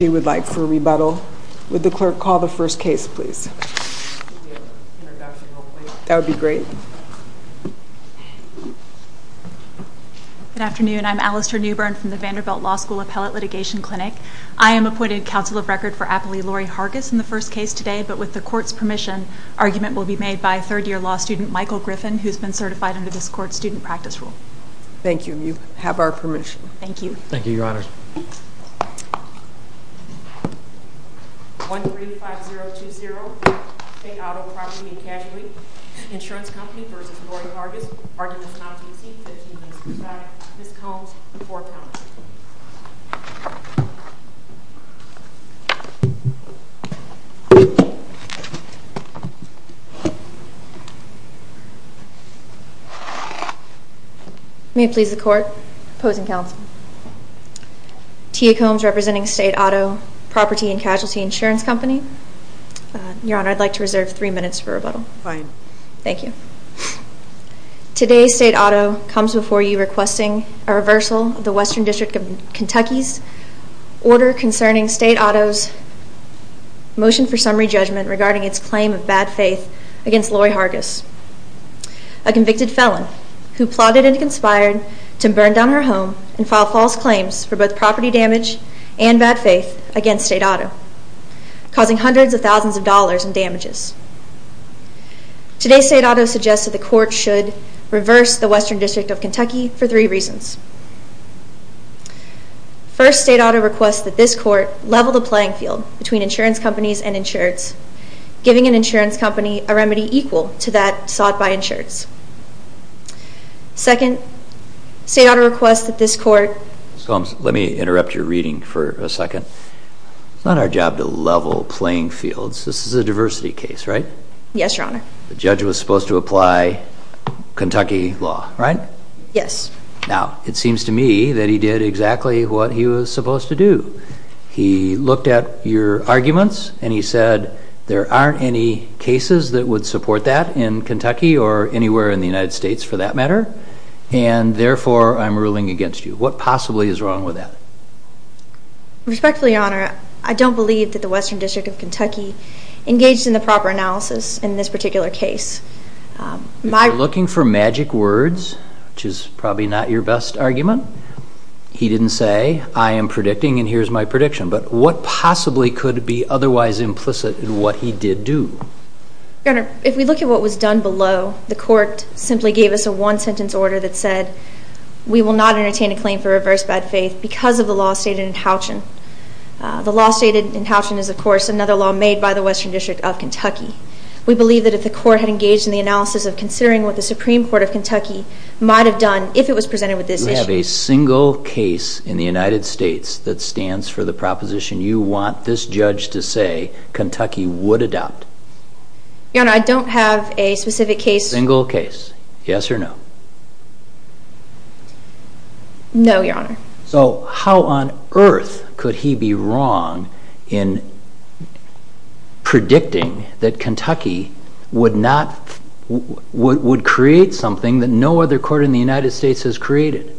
would like for rebuttal. Would the clerk call the first case, please? That would be great. Good afternoon. I'm Alastair Newbern from the Vanderbilt Law School Appellate Litigation Clinic. I am appointed Counsel of Record for Appellee Lori Hargis in the first case today, but with the court's permission, argument will be made by third-year law student Michael Griffin, who's been certified under this court's student practice rule. Thank you. You have our permission. Thank you. Thank you, Your Honor. Your Honor. 1-3-5-0-2-0. State Auto Property and Casualty. Insurance Company v. Lori Hargis. Argument is not to be seen. Ms. Combs, the floor is yours. May it please the court. Opposing counsel. Tia Combs, representing State Auto Property and Casualty Insurance Company. Your Honor, I'd like to reserve three minutes for rebuttal. Fine. Thank you. Today, State Auto comes before you requesting a reversal of the Western District of Kentucky's order concerning State Auto's motion for summary judgment regarding its claim of bad faith against Lori Hargis, a convicted felon who plotted and conspired to burn down her home and file false claims for both property damage and bad faith against State Auto, causing hundreds of thousands of dollars in damages. Today, State Auto suggests that the court should reverse the Western District of Kentucky for three reasons. First, State Auto requests that this court level the playing field between insurance companies and insureds, giving an insurance company a remedy equal to that Second, State Auto requests that this court Ms. Combs, let me interrupt your reading for a second. It's not our job to level playing fields. This is a diversity case, right? Yes, Your Honor. The judge was supposed to apply Kentucky law, right? Yes. Now, it seems to me that he did exactly what he was supposed to do. He looked at your arguments and he said there aren't any cases that would support that in Kentucky or anywhere in the United States for that matter, and therefore I'm ruling against you. What possibly is wrong with that? Respectfully, Your Honor, I don't believe that the Western District of Kentucky engaged in the proper analysis in this particular case. If you're looking for magic words, which is probably not your best argument, he didn't say, I am predicting and here's my prediction. But what possibly could be otherwise implicit in what he did do? Your Honor, if we look at what was done below, the court simply gave us a one sentence order that said, we will not entertain a claim for reverse bad faith because of the law stated in Houchen. The law stated in Houchen is of course another law made by the Western District of Kentucky. We believe that if the court had engaged in the analysis of considering what the Supreme Court of Kentucky might have done if it was presented with this issue. You have a single case in the United States that stands for the proposition you want this judge to say that Kentucky would adopt? Your Honor, I don't have a specific case. Single case. Yes or no? No, Your Honor. So how on earth could he be wrong in predicting that Kentucky would create something that no other court in the United States has created?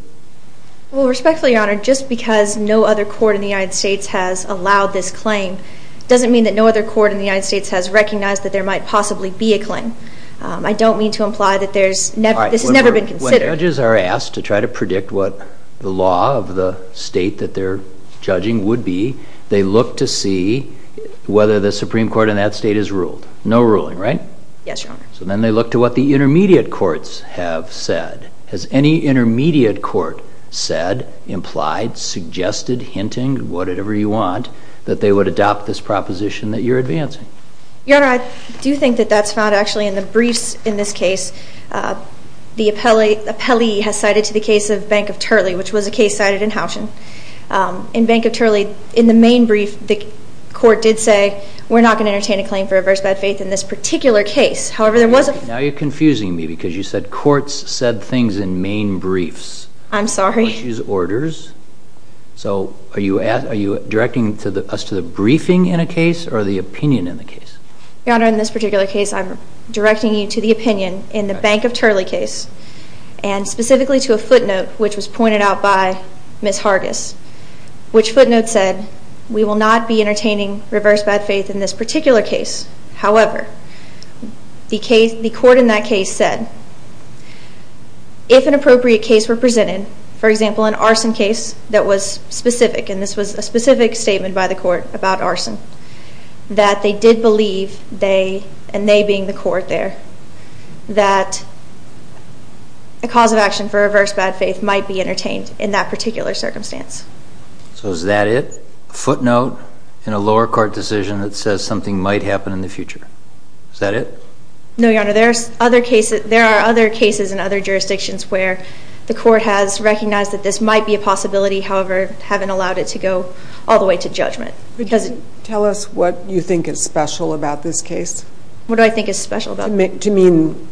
Respectfully, Your Honor, just because no other court in the United States has allowed this claim doesn't mean that no other court in the United States has recognized that there might possibly be a claim. I don't mean to imply that this has never been considered. When judges are asked to try to predict what the law of the state that they're judging would be, they look to see whether the Supreme Court in that state has ruled. No ruling, right? Yes, Your Honor. So then they look to what the intermediate courts have said. Has any intermediate court said, implied, suggested, hinting, whatever you want, that they would adopt this proposition that you're advancing? Your Honor, I do think that that's found actually in the briefs in this case. The appellee has cited to the case of Bank of Turley, which was a case cited in Houchen. In Bank of Turley, in the main brief, the court did say, we're not going to entertain a claim for adverse bad faith in this particular case. However, there was a... Now you're confusing me because you said courts said things in main briefs. I'm sorry. Which is are you directing us to the briefing in a case or the opinion in the case? Your Honor, in this particular case, I'm directing you to the opinion in the Bank of Turley case and specifically to a footnote which was pointed out by Ms. Hargis, which footnote said we will not be entertaining reverse bad faith in this particular case. However, the court in that case said if an appropriate case were presented, for example, an arson case, and this was a specific statement by the court about arson, that they did believe they, and they being the court there, that a cause of action for adverse bad faith might be entertained in that particular circumstance. So is that it? A footnote in a lower court decision that says something might happen in the future. Is that it? No, Your Honor, there are other cases in other jurisdictions where the court has recognized that this might be a possibility, however, haven't allowed it to go all the way to judgment. Tell us what you think is special about this case. What do I think is special about it? To mean,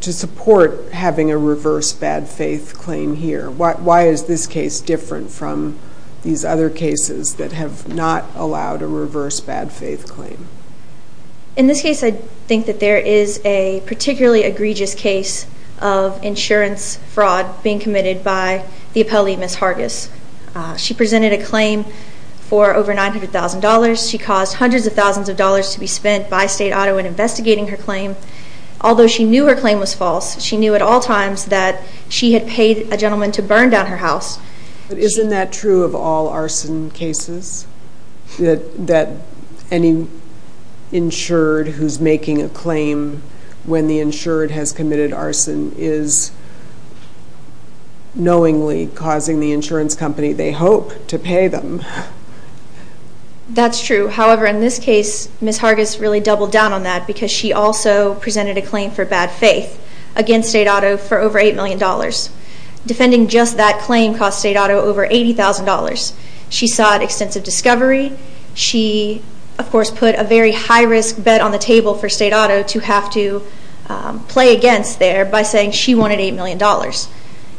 to support having a reverse bad faith claim here. Why is this case different from these other cases that have not allowed a reverse bad faith claim? In this case, I think that there is a particularly egregious case of insurance fraud being committed by the appellee, Ms. Hargis. She presented a claim for over $900,000. She caused hundreds of thousands of dollars to be spent by state auto in investigating her claim. Although she knew her claim was false, she knew at all times that she had paid a gentleman to burn down her house. But isn't that true of all arson cases? That any insured who's making a claim when the insured has committed arson is knowingly causing the insurance company they hope to pay them. That's true. However, in this case, Ms. Hargis really doubled down on that because she also presented a claim for bad faith against state auto for over $8 million. Defending just that claim cost state auto over $80,000. She sought extensive discovery. She of course put a very high risk bet on the table for state auto to have to play against there by saying she wanted $8 million.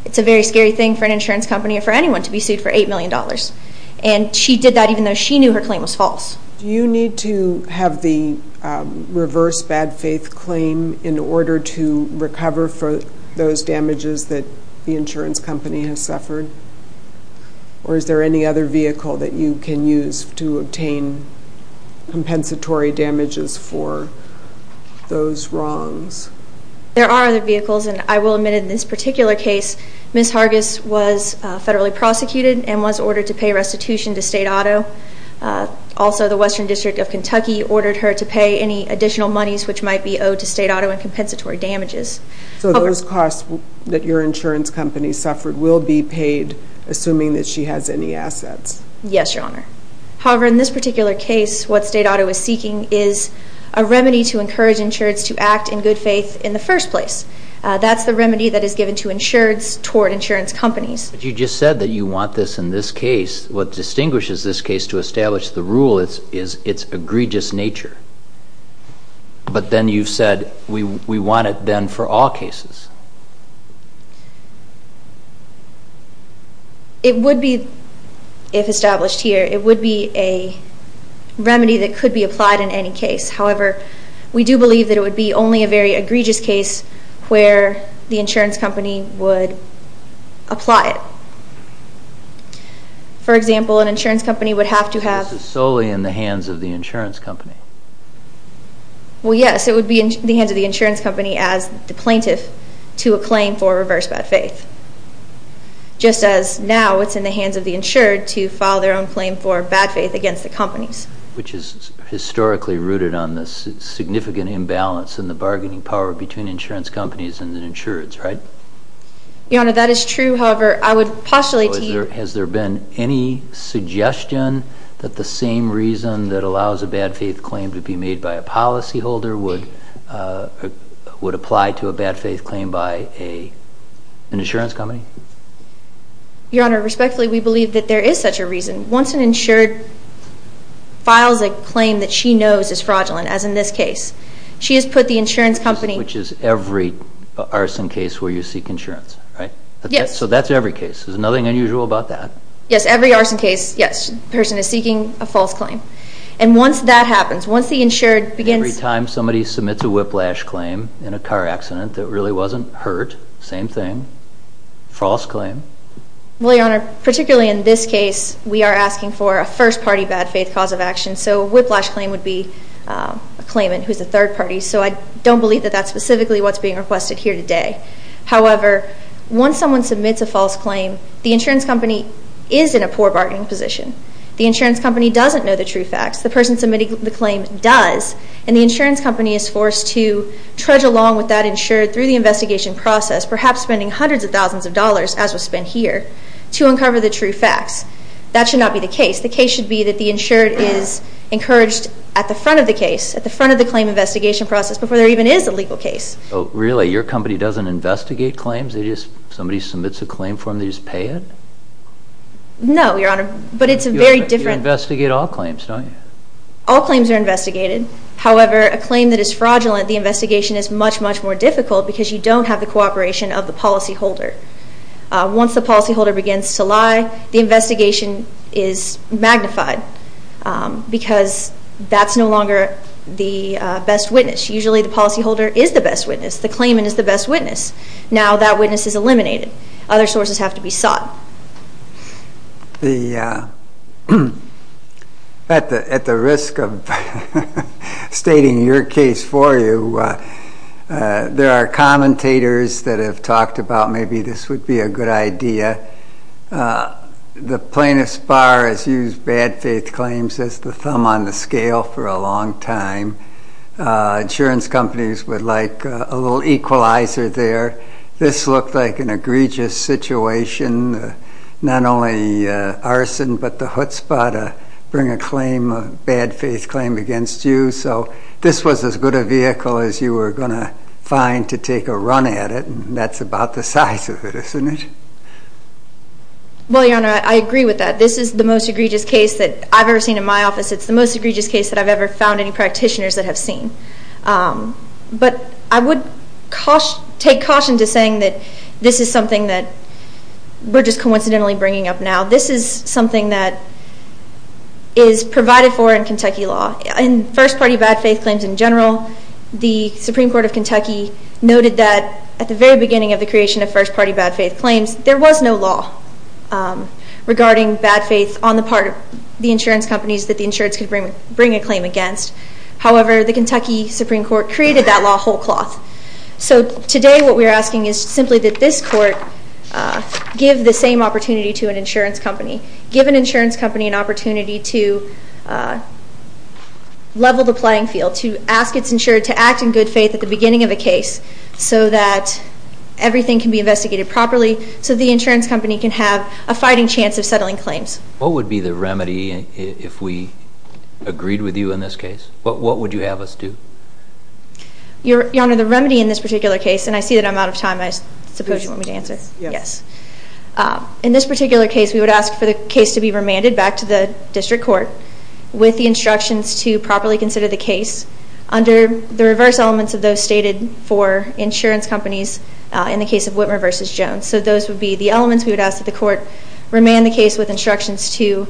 It's a very scary thing for an insurance company or for anyone to be sued for $8 million. She did that even though she knew her claim was false. Do you need to have the reverse bad faith claim in order to recover for those damages that the insurance company has suffered? Or is there any other vehicle that you can use to obtain compensatory damages for those wrongs? There are other vehicles and I will admit in this particular case, Ms. Hargis was federally prosecuted and was ordered to pay restitution to state auto. Also the Western District of Kentucky ordered her to pay any additional monies which might be owed to state auto in compensatory damages. So those costs that your insurance company suffered will be paid assuming that she has any assets? Yes, Your Honor. However, in this particular case, what state auto is seeking is a remedy to encourage insurance to act in good faith in the first place. That's the remedy that is given to insureds toward insurance companies. But you just said that you want this in this case. What distinguishes this case to establish the rule is its egregious nature. But then you've said we want it then for all cases. It would be, if established here, it would be a remedy that would be applied in any case. However, we do believe that it would be only a very egregious case where the insurance company would apply it. For example, an insurance company would have to have... This is solely in the hands of the insurance company. Well, yes. It would be in the hands of the insurance company as the plaintiff to a claim for reverse bad faith. Just as now it's in the hands of the insured to file their own claim for bad faith against the companies. Which is historically rooted on this significant imbalance in the bargaining power between insurance companies and the insureds, right? Your Honor, that is true. However, I would postulate to you... Has there been any suggestion that the same reason that allows a bad faith claim to be made by a policyholder would apply to a bad faith claim by an insurance company? Your Honor, respectfully, we believe that there is such a reason. Once an insured files a claim that she knows is fraudulent, as in this case, she has put the insurance company... Which is every arson case where you seek insurance, right? Yes. So that's every case. There's nothing unusual about that. Yes, every arson case, yes, the person is seeking a false claim. And once that happens, once the insured begins... Every time somebody submits a whiplash claim in a car accident that really wasn't hurt, same thing. False claim. Well, Your Honor, particularly in this case, we are asking for a first party bad faith cause of action. So a whiplash claim would be a claimant who's a third party. So I don't believe that that's specifically what's being requested here today. However, once someone submits a false claim, the insurance company is in a poor bargaining position. The insurance company doesn't know the true facts. The person submitting the claim does. And the insurance company is forced to trudge along with that insured through the investigation process, perhaps spending hundreds of thousands of dollars, as was spent here, to uncover the true facts. That should not be the case. The case should be that the insured is encouraged at the front of the case, at the front of the claim investigation process before there even is a legal case. So really, your company doesn't investigate claims? Somebody submits a claim for them, they just pay it? No, Your Honor, but it's a very different... You investigate all claims, don't you? All claims are investigated. However, a claim that is fraudulent, the investigation is much, much more difficult because you don't have the cooperation of the policyholder. Once the policyholder begins to lie, the investigation is magnified because that's no longer the best witness. Usually the policyholder is the best witness. The claimant is the best witness. Now that witness is eliminated. Other sources have to be sought. At the risk of stating your case for you, there are commentators that have talked about maybe this would be a good idea. The plaintiff's bar has used bad faith claims as the thumb on the scale for a long time. Insurance companies would like a little equalizer there. This looked like an egregious situation. Not only arson, but the chutzpah to bring a bad faith claim against you. This was as good a vehicle as you were going to find to take a run at it. That's about the size of it, isn't it? Well, Your Honor, I agree with that. This is the most egregious case that I've ever seen in my office. It's the most egregious case that I've ever found any practitioners that have seen. I would take caution to saying that this is something that we're just coincidentally bringing up now. This is something that is provided for in Kentucky law. In first party bad faith claims in general, the Supreme Court of Kentucky noted that at the very beginning of the creation of first party bad faith claims, there was no law regarding bad faith on the part of the insurance companies that the insurance could bring a claim against. However, the Kentucky Supreme Court created that law whole cloth. Today, what we're asking is simply that this court give the same opportunity to an insurance company. Give an insurance company an opportunity to level the playing field. To ask it's insured to act in good faith at the beginning of a case so that everything can be investigated properly so the insurance company can have a fighting chance of settling claims. What would be the remedy if we agreed with you in this case? What would you have us do? Your Honor, the remedy in this particular case, and I see that I'm out of time. I suppose you want me to answer. Yes. In this particular case we would ask for the case to be remanded back to the district court with the instructions to properly consider the case under the reverse elements of those stated for insurance companies in the case of Whitmer versus Jones. So those would be the elements we would ask that the court remand the case with instructions to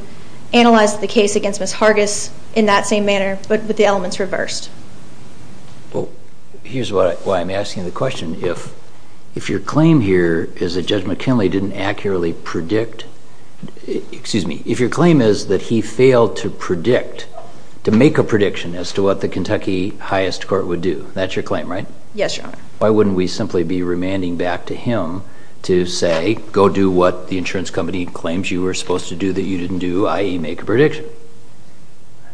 analyze the case against Ms. Hargis in that same manner but with the elements reversed. Well, here's why I'm asking the question. If your claim here is that Judge McKinley didn't accurately predict, excuse me, if your claim is that he failed to predict, to make a prediction as to what the Kentucky highest court would do, that's your claim, right? Yes, Your Honor. Why wouldn't we simply be remanding back to him to say, go do what the insurance company claims you were supposed to do that you didn't do, i.e. make a prediction.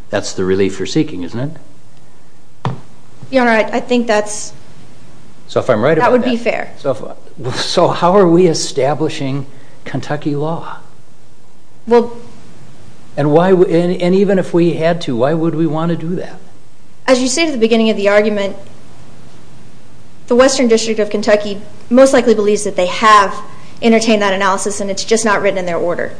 That's the relief you're seeking, isn't it? Your Honor, I think that's, that would be fair. So how are we establishing Kentucky law? And why, and even if we had to, why would we want to do that? As you say at the beginning of the argument, the Western District of Kentucky most likely believes that they have entertained that analysis and it's just not written in their order.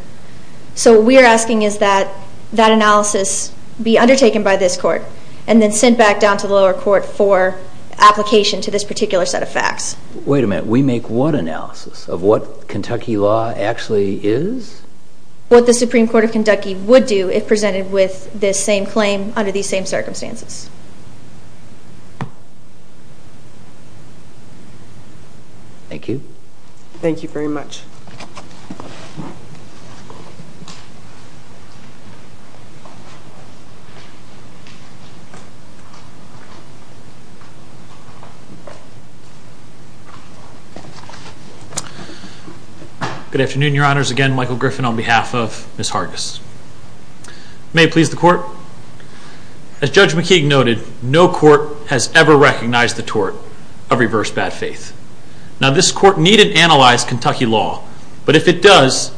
So what we're asking is that that analysis be undertaken by this court and then sent back down to the lower court for application to this particular set of facts. Wait a minute, we make what analysis of what Kentucky law actually is? What the Supreme Court of Kentucky would do if presented with this same claim under these same circumstances. Thank you. Thank you very much. Good afternoon, Your Honors. Again, Michael Griffin on behalf of Ms. Hargis. May it please the court. As Judge McKeague noted, no court has ever recognized the tort of reverse bad faith. Now this court needn't analyze Kentucky law, but if it does,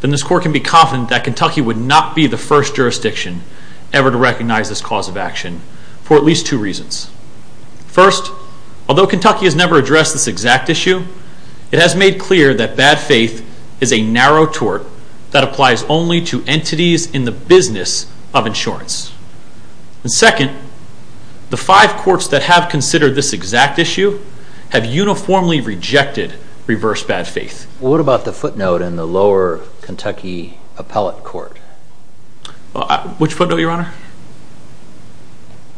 then this court can be confident that Kentucky would not be the first jurisdiction ever to recognize this cause of action for at least two reasons. First, although Kentucky has never addressed this exact issue, it has made clear that bad faith is a narrow tort that applies only to entities in the business of insurance. Second, the five courts that have considered this exact issue have uniformly rejected reverse bad faith. What about the footnote in the lower Kentucky appellate court? Which footnote, Your Honor?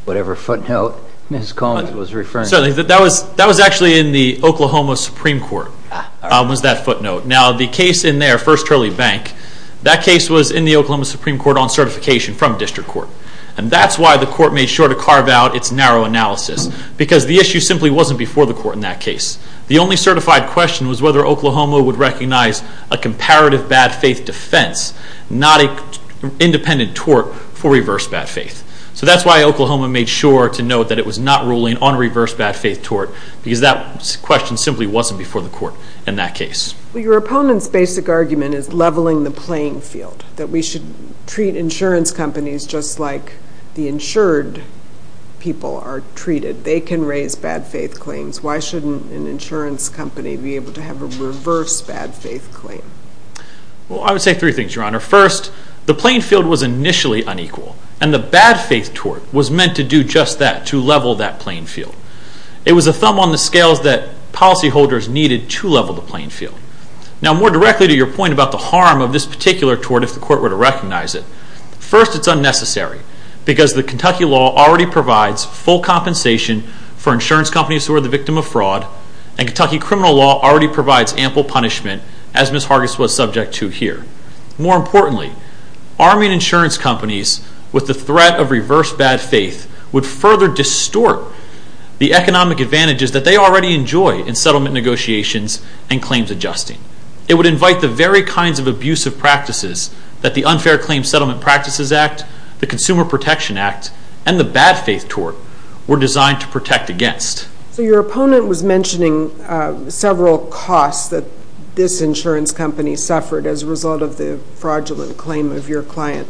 Whatever footnote Ms. Collins was referring to. That was actually in the Oklahoma Supreme Court, was that footnote. Now the case in there, First Early Bank, that case was in the Oklahoma Supreme Court on certification from district court. And that's why the court made sure to carve out its narrow analysis, because the issue simply wasn't before the court in that case. The only certified question was whether Oklahoma would recognize a comparative bad faith defense, not an inverse bad faith. So that's why Oklahoma made sure to note that it was not ruling on reverse bad faith tort, because that question simply wasn't before the court in that case. Your opponent's basic argument is leveling the playing field. That we should treat insurance companies just like the insured people are treated. They can raise bad faith claims. Why shouldn't an insurance company be able to have a reverse bad faith claim? Well, I would say three things, Your Honor. First, the playing field was initially unequal, and the bad faith tort was meant to do just that, to level that playing field. It was a thumb on the scales that policy holders needed to level the playing field. Now more directly to your point about the harm of this particular tort, if the court were to recognize it. First, it's unnecessary, because the Kentucky law already provides full compensation for insurance companies who are the victim of fraud, and Kentucky criminal law already provides ample punishment, as Ms. Hargis was subject to here. More importantly, arming insurance companies with the threat of reverse bad faith would further distort the economic advantages that they already enjoy in settlement negotiations and claims adjusting. It would invite the very kinds of abusive practices that the Unfair Claims Settlement Practices Act, the Consumer Protection Act, and the bad faith tort were designed to protect against. So your opponent was mentioning several costs that this insurance company suffered as a result of the fraudulent claim of your client.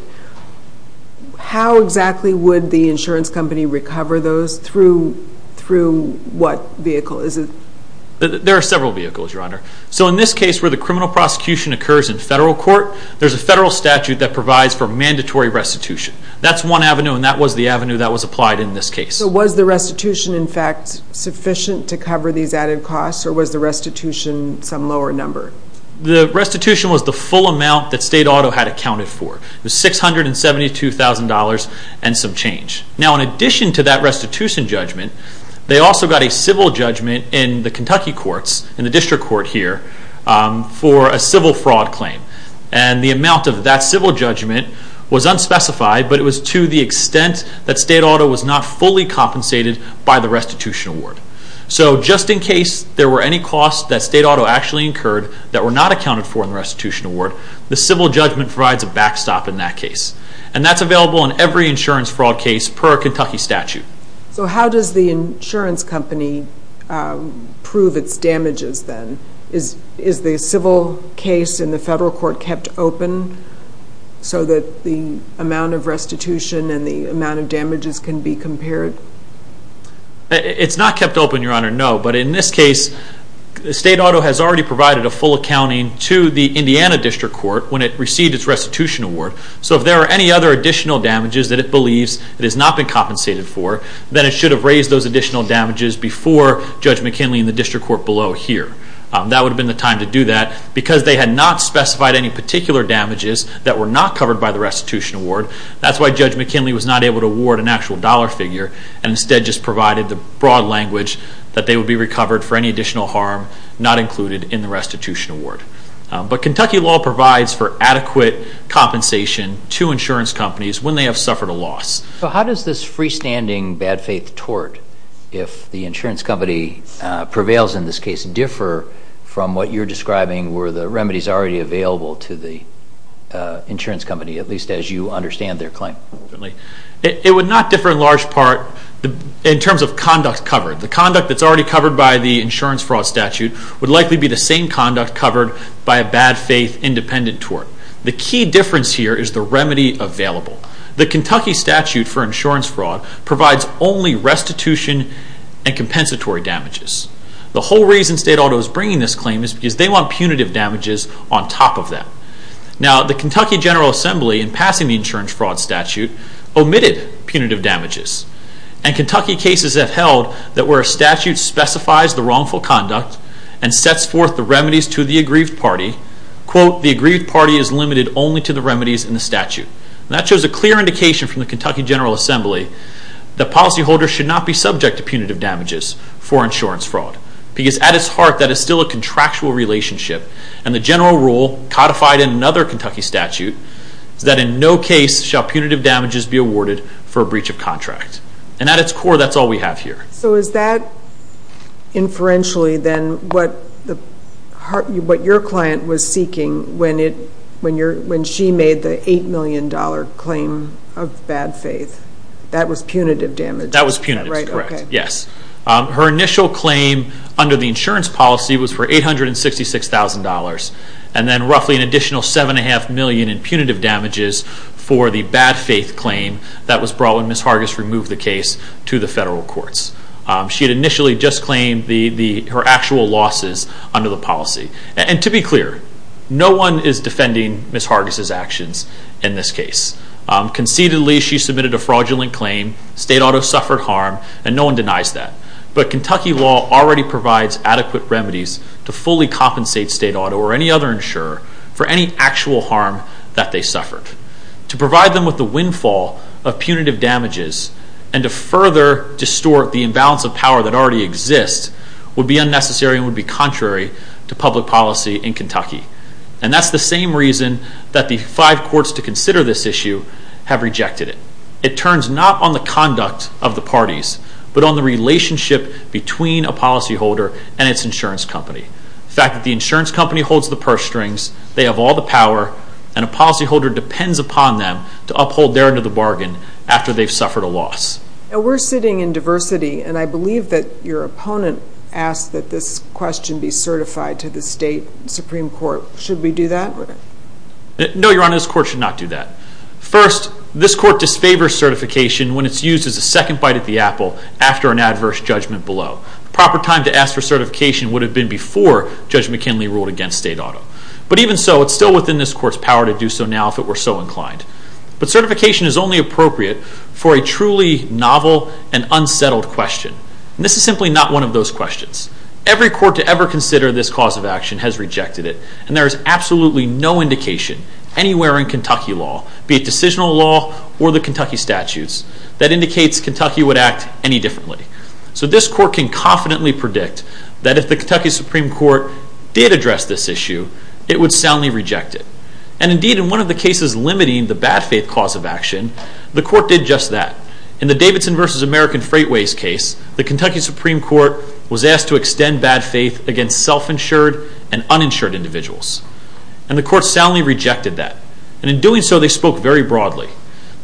How exactly would the insurance company recover those through what vehicle? There are several vehicles, Your Honor. So in this case where the criminal prosecution occurs in federal court, there's a federal statute that provides for mandatory restitution. That's one avenue, and that was the avenue that was applied in this case. So was the restitution, in fact, sufficient to cover these added costs, or was the restitution some lower number? The restitution was the full amount that state auto had accounted for. It was $672,000 and some change. Now in addition to that restitution judgment, they also got a civil judgment in the Kentucky courts, in the district court here, for a civil fraud claim. And the amount of that civil judgment was unspecified, but it was to the extent that state auto was not fully compensated by the restitution award. So just in case there were any costs that state auto actually incurred that were not accounted for in the restitution award, the civil judgment provides a backstop in that case. And that's available in every insurance fraud case per Kentucky statute. So how does the insurance company prove its damages then? Is the civil case in the federal court kept open so that the amount of restitution and the amount of damages can be compared? It's not kept open, Your Honor, no. But in this case state auto has already provided a full accounting to the Indiana district court when it received its restitution award. So if there are any other additional damages that it believes it has not been compensated for, then it should have raised those additional damages before Judge McKinley and the district court below here. That would have been the time to do that. Because they had not specified any particular damages that were not covered by the restitution award, that's why Judge McKinley was not able to award an actual dollar figure and instead just provided the broad language that they would be recovered for any additional harm not included in the restitution award. But Kentucky law provides for adequate compensation to insurance companies when they have suffered a loss. So how does this freestanding bad faith tort, if the insurance company prevails in this case, differ from what you're describing where the remedies are already available to the insurance company, at least as you understand their claim? It would not differ in large part in terms of conduct covered. The conduct that's already covered by the insurance fraud statute would likely be the same conduct covered by a bad faith independent tort. The key difference here is the remedy available. The Kentucky statute for insurance fraud provides only restitution and compensatory damages. The whole reason state auto is bringing this claim is because they want punitive damages on top of that. Now the Kentucky statute for insurance fraud statute omitted punitive damages. And Kentucky cases have held that where a statute specifies the wrongful conduct and sets forth the remedies to the aggrieved party, quote, the aggrieved party is limited only to the remedies in the statute. That shows a clear indication from the Kentucky General Assembly that policyholders should not be subject to punitive damages for insurance fraud. Because at its heart that is still a contractual relationship. And the general rule codified in another Kentucky statute is that in no case shall punitive damages be awarded for a breach of contract. And at its core that's all we have here. So is that inferentially then what your client was seeking when she made the $8 million claim of bad faith? That was punitive damages? That was punitive, yes. Her initial claim under the insurance policy was for $866,000. And then roughly an additional $7.5 million in punitive damages for the bad faith claim that was brought when Ms. Hargis removed the case to the federal courts. She had initially just claimed her actual losses under the policy. And to be clear, no one is defending Ms. Hargis' actions in this case. Conceitedly she submitted a fraudulent claim. State Auto suffered harm and no one denies that. But Kentucky law already provides adequate remedies to fully compensate State Auto or any other insurer for any actual harm that they suffered. To provide them with the windfall of punitive damages and to further distort the imbalance of power that already exists would be unnecessary and would be contrary to public policy in Kentucky. And that's the same reason that the five courts to consider this issue have rejected it. It turns not on the conduct of the parties, but on the relationship between a company. The fact that the insurance company holds the purse strings, they have all the power, and a policyholder depends upon them to uphold their end of the bargain after they've suffered a loss. Now we're sitting in diversity and I believe that your opponent asked that this question be certified to the State Supreme Court. Should we do that? No, Your Honor, this court should not do that. First, this court disfavors certification when it's used as a second bite at the apple after an adverse judgment below. The proper time to ask for certification would have been before Judge McKinley ruled against State Auto. But even so, it's still within this court's power to do so now if it were so inclined. But certification is only appropriate for a truly novel and unsettled question. This is simply not one of those questions. Every court to ever consider this cause of action has rejected it and there is absolutely no indication anywhere in Kentucky law, be it decisional law or the Kentucky statutes, that indicates Kentucky would act any differently. So this court can confidently predict that if the Kentucky Supreme Court did address this issue, it would soundly reject it. And indeed, in one of the cases limiting the bad faith cause of action, the court did just that. In the Davidson v. American Freightways case, the Kentucky Supreme Court was asked to extend bad faith against self-insured and uninsured individuals. And the court soundly rejected that. And in doing so, they spoke very broadly.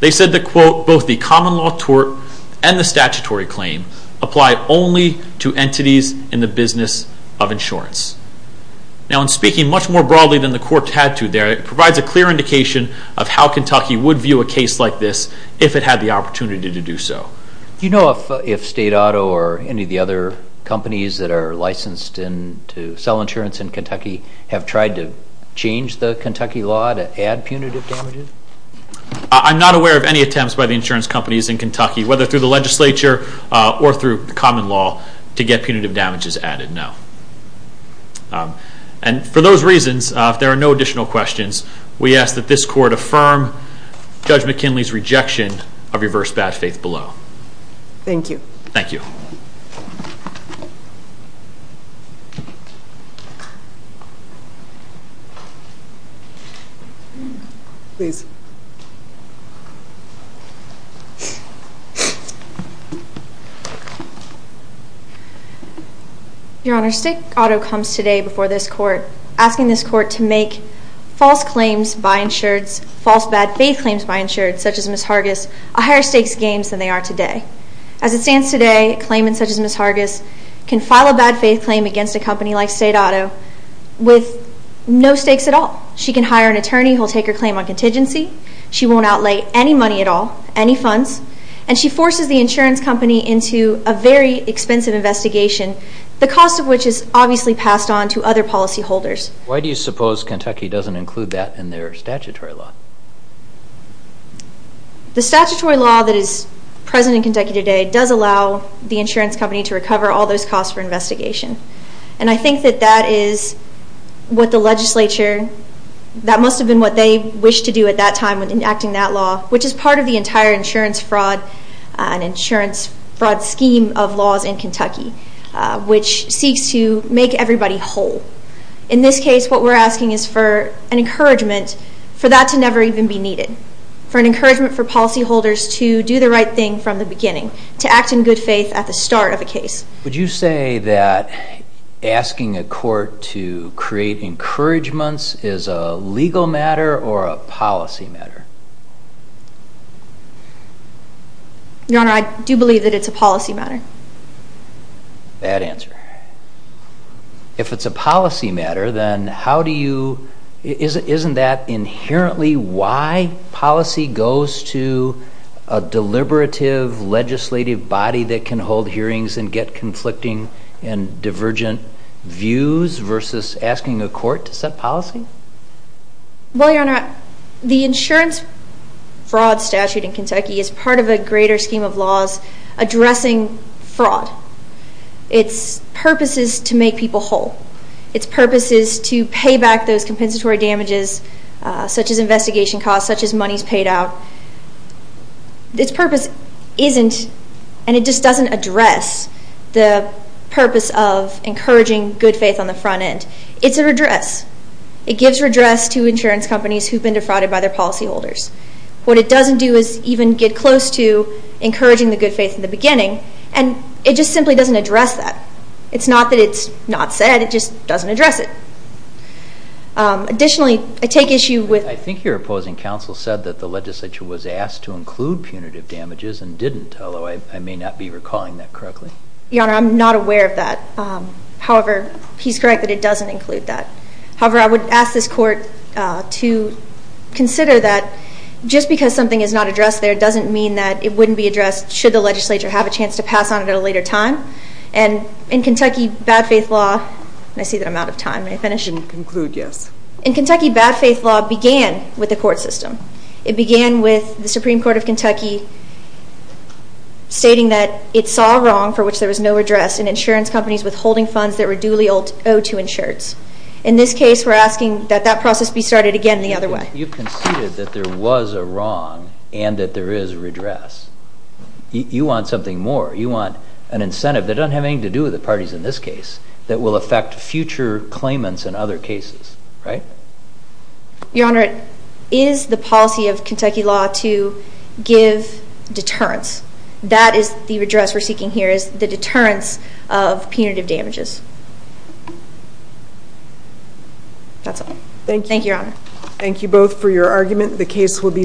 They said that both the bad faith and the statutory claim apply only to entities in the business of insurance. Now in speaking much more broadly than the court had to there, it provides a clear indication of how Kentucky would view a case like this if it had the opportunity to do so. Do you know if State Auto or any of the other companies that are licensed to sell insurance in Kentucky have tried to change the Kentucky law to add punitive damages? I'm not aware of any attempts by the insurance companies in Kentucky, whether through the legislature or through common law to get punitive damages added. No. And for those reasons, if there are no additional questions, we ask that this court affirm Judge McKinley's rejection of reverse bad faith below. Thank you. Your Honor, State Auto comes today before this court asking this court to make false claims by insureds, false bad faith claims by insureds such as Ms. Hargis a higher stakes games than they are today. As it stands today, a claimant such as Ms. Hargis can file a bad faith claim against a company like State Auto with no stakes at all. She can hire an attorney who will take her claim on contingency. She won't outlay any money at all, any funds. And she forces the insurance company into a very expensive investigation, the cost of which is obviously passed on to other policy holders. Why do you suppose Kentucky doesn't include that in their statutory law? The statutory law that is present in Kentucky today does allow the insurance company to recover all those costs for investigation. And I think that that is what the legislature that must have been what they wished to do at that time in enacting that law which is part of the entire insurance fraud scheme of laws in Kentucky which seeks to make everybody whole. In this case, what we're asking is for an encouragement for that to never even be needed. For an encouragement for policy holders to do the right thing from the beginning. To act in good faith at the start of a case. Would you say that asking a court to create encouragements is a legal matter or a policy matter? Your Honor, I do believe that it's a policy matter. Bad answer. If it's a policy matter, then how do you isn't that inherently why policy goes to a deliberative legislative body that can hold hearings and get conflicting and divergent views versus asking a court to set policy? Well, Your Honor, the insurance fraud statute in Kentucky is part of a greater scheme of laws addressing fraud. Its purpose is to make people whole. Its purpose is to pay back those compensatory damages such as investigation costs, such as monies paid out. Its purpose isn't and it just doesn't address the purpose of encouraging good faith on the front end. It's a redress. It gives redress to insurance companies who've been defrauded by their policy holders. What it doesn't do is even get close to encouraging the good faith in the beginning and it just simply doesn't address that. It's not that it's not said, it just doesn't address it. Additionally, I take issue with... I think your opposing counsel said that the legislature was asked to include punitive damages and didn't, although I may not be recalling that correctly. Your Honor, I'm not aware of that. However, he's correct that it doesn't include that. However, I would ask this court to consider that just because something is not addressed there doesn't mean that it wouldn't be addressed should the legislature have a chance to pass on it at a later time. And in Kentucky, bad faith law... I see that I'm out of time. May I finish? You can conclude, yes. In Kentucky, bad faith law began with the court system. It began with the Supreme Court of stating that it saw wrong for which there was no redress in insurance companies withholding funds that were duly owed to insureds. In this case, we're asking that that process be started again the other way. You've conceded that there was a wrong and that there is redress. You want something more. You want an incentive that doesn't have anything to do with the parties in this case that will affect future claimants in other cases, right? Your Honor, is the policy of Kentucky law to give deterrence? That is the redress we're seeking here is the deterrence of punitive damages. That's all. Thank you, Your Honor. Thank you both for your argument. The case will be submitted.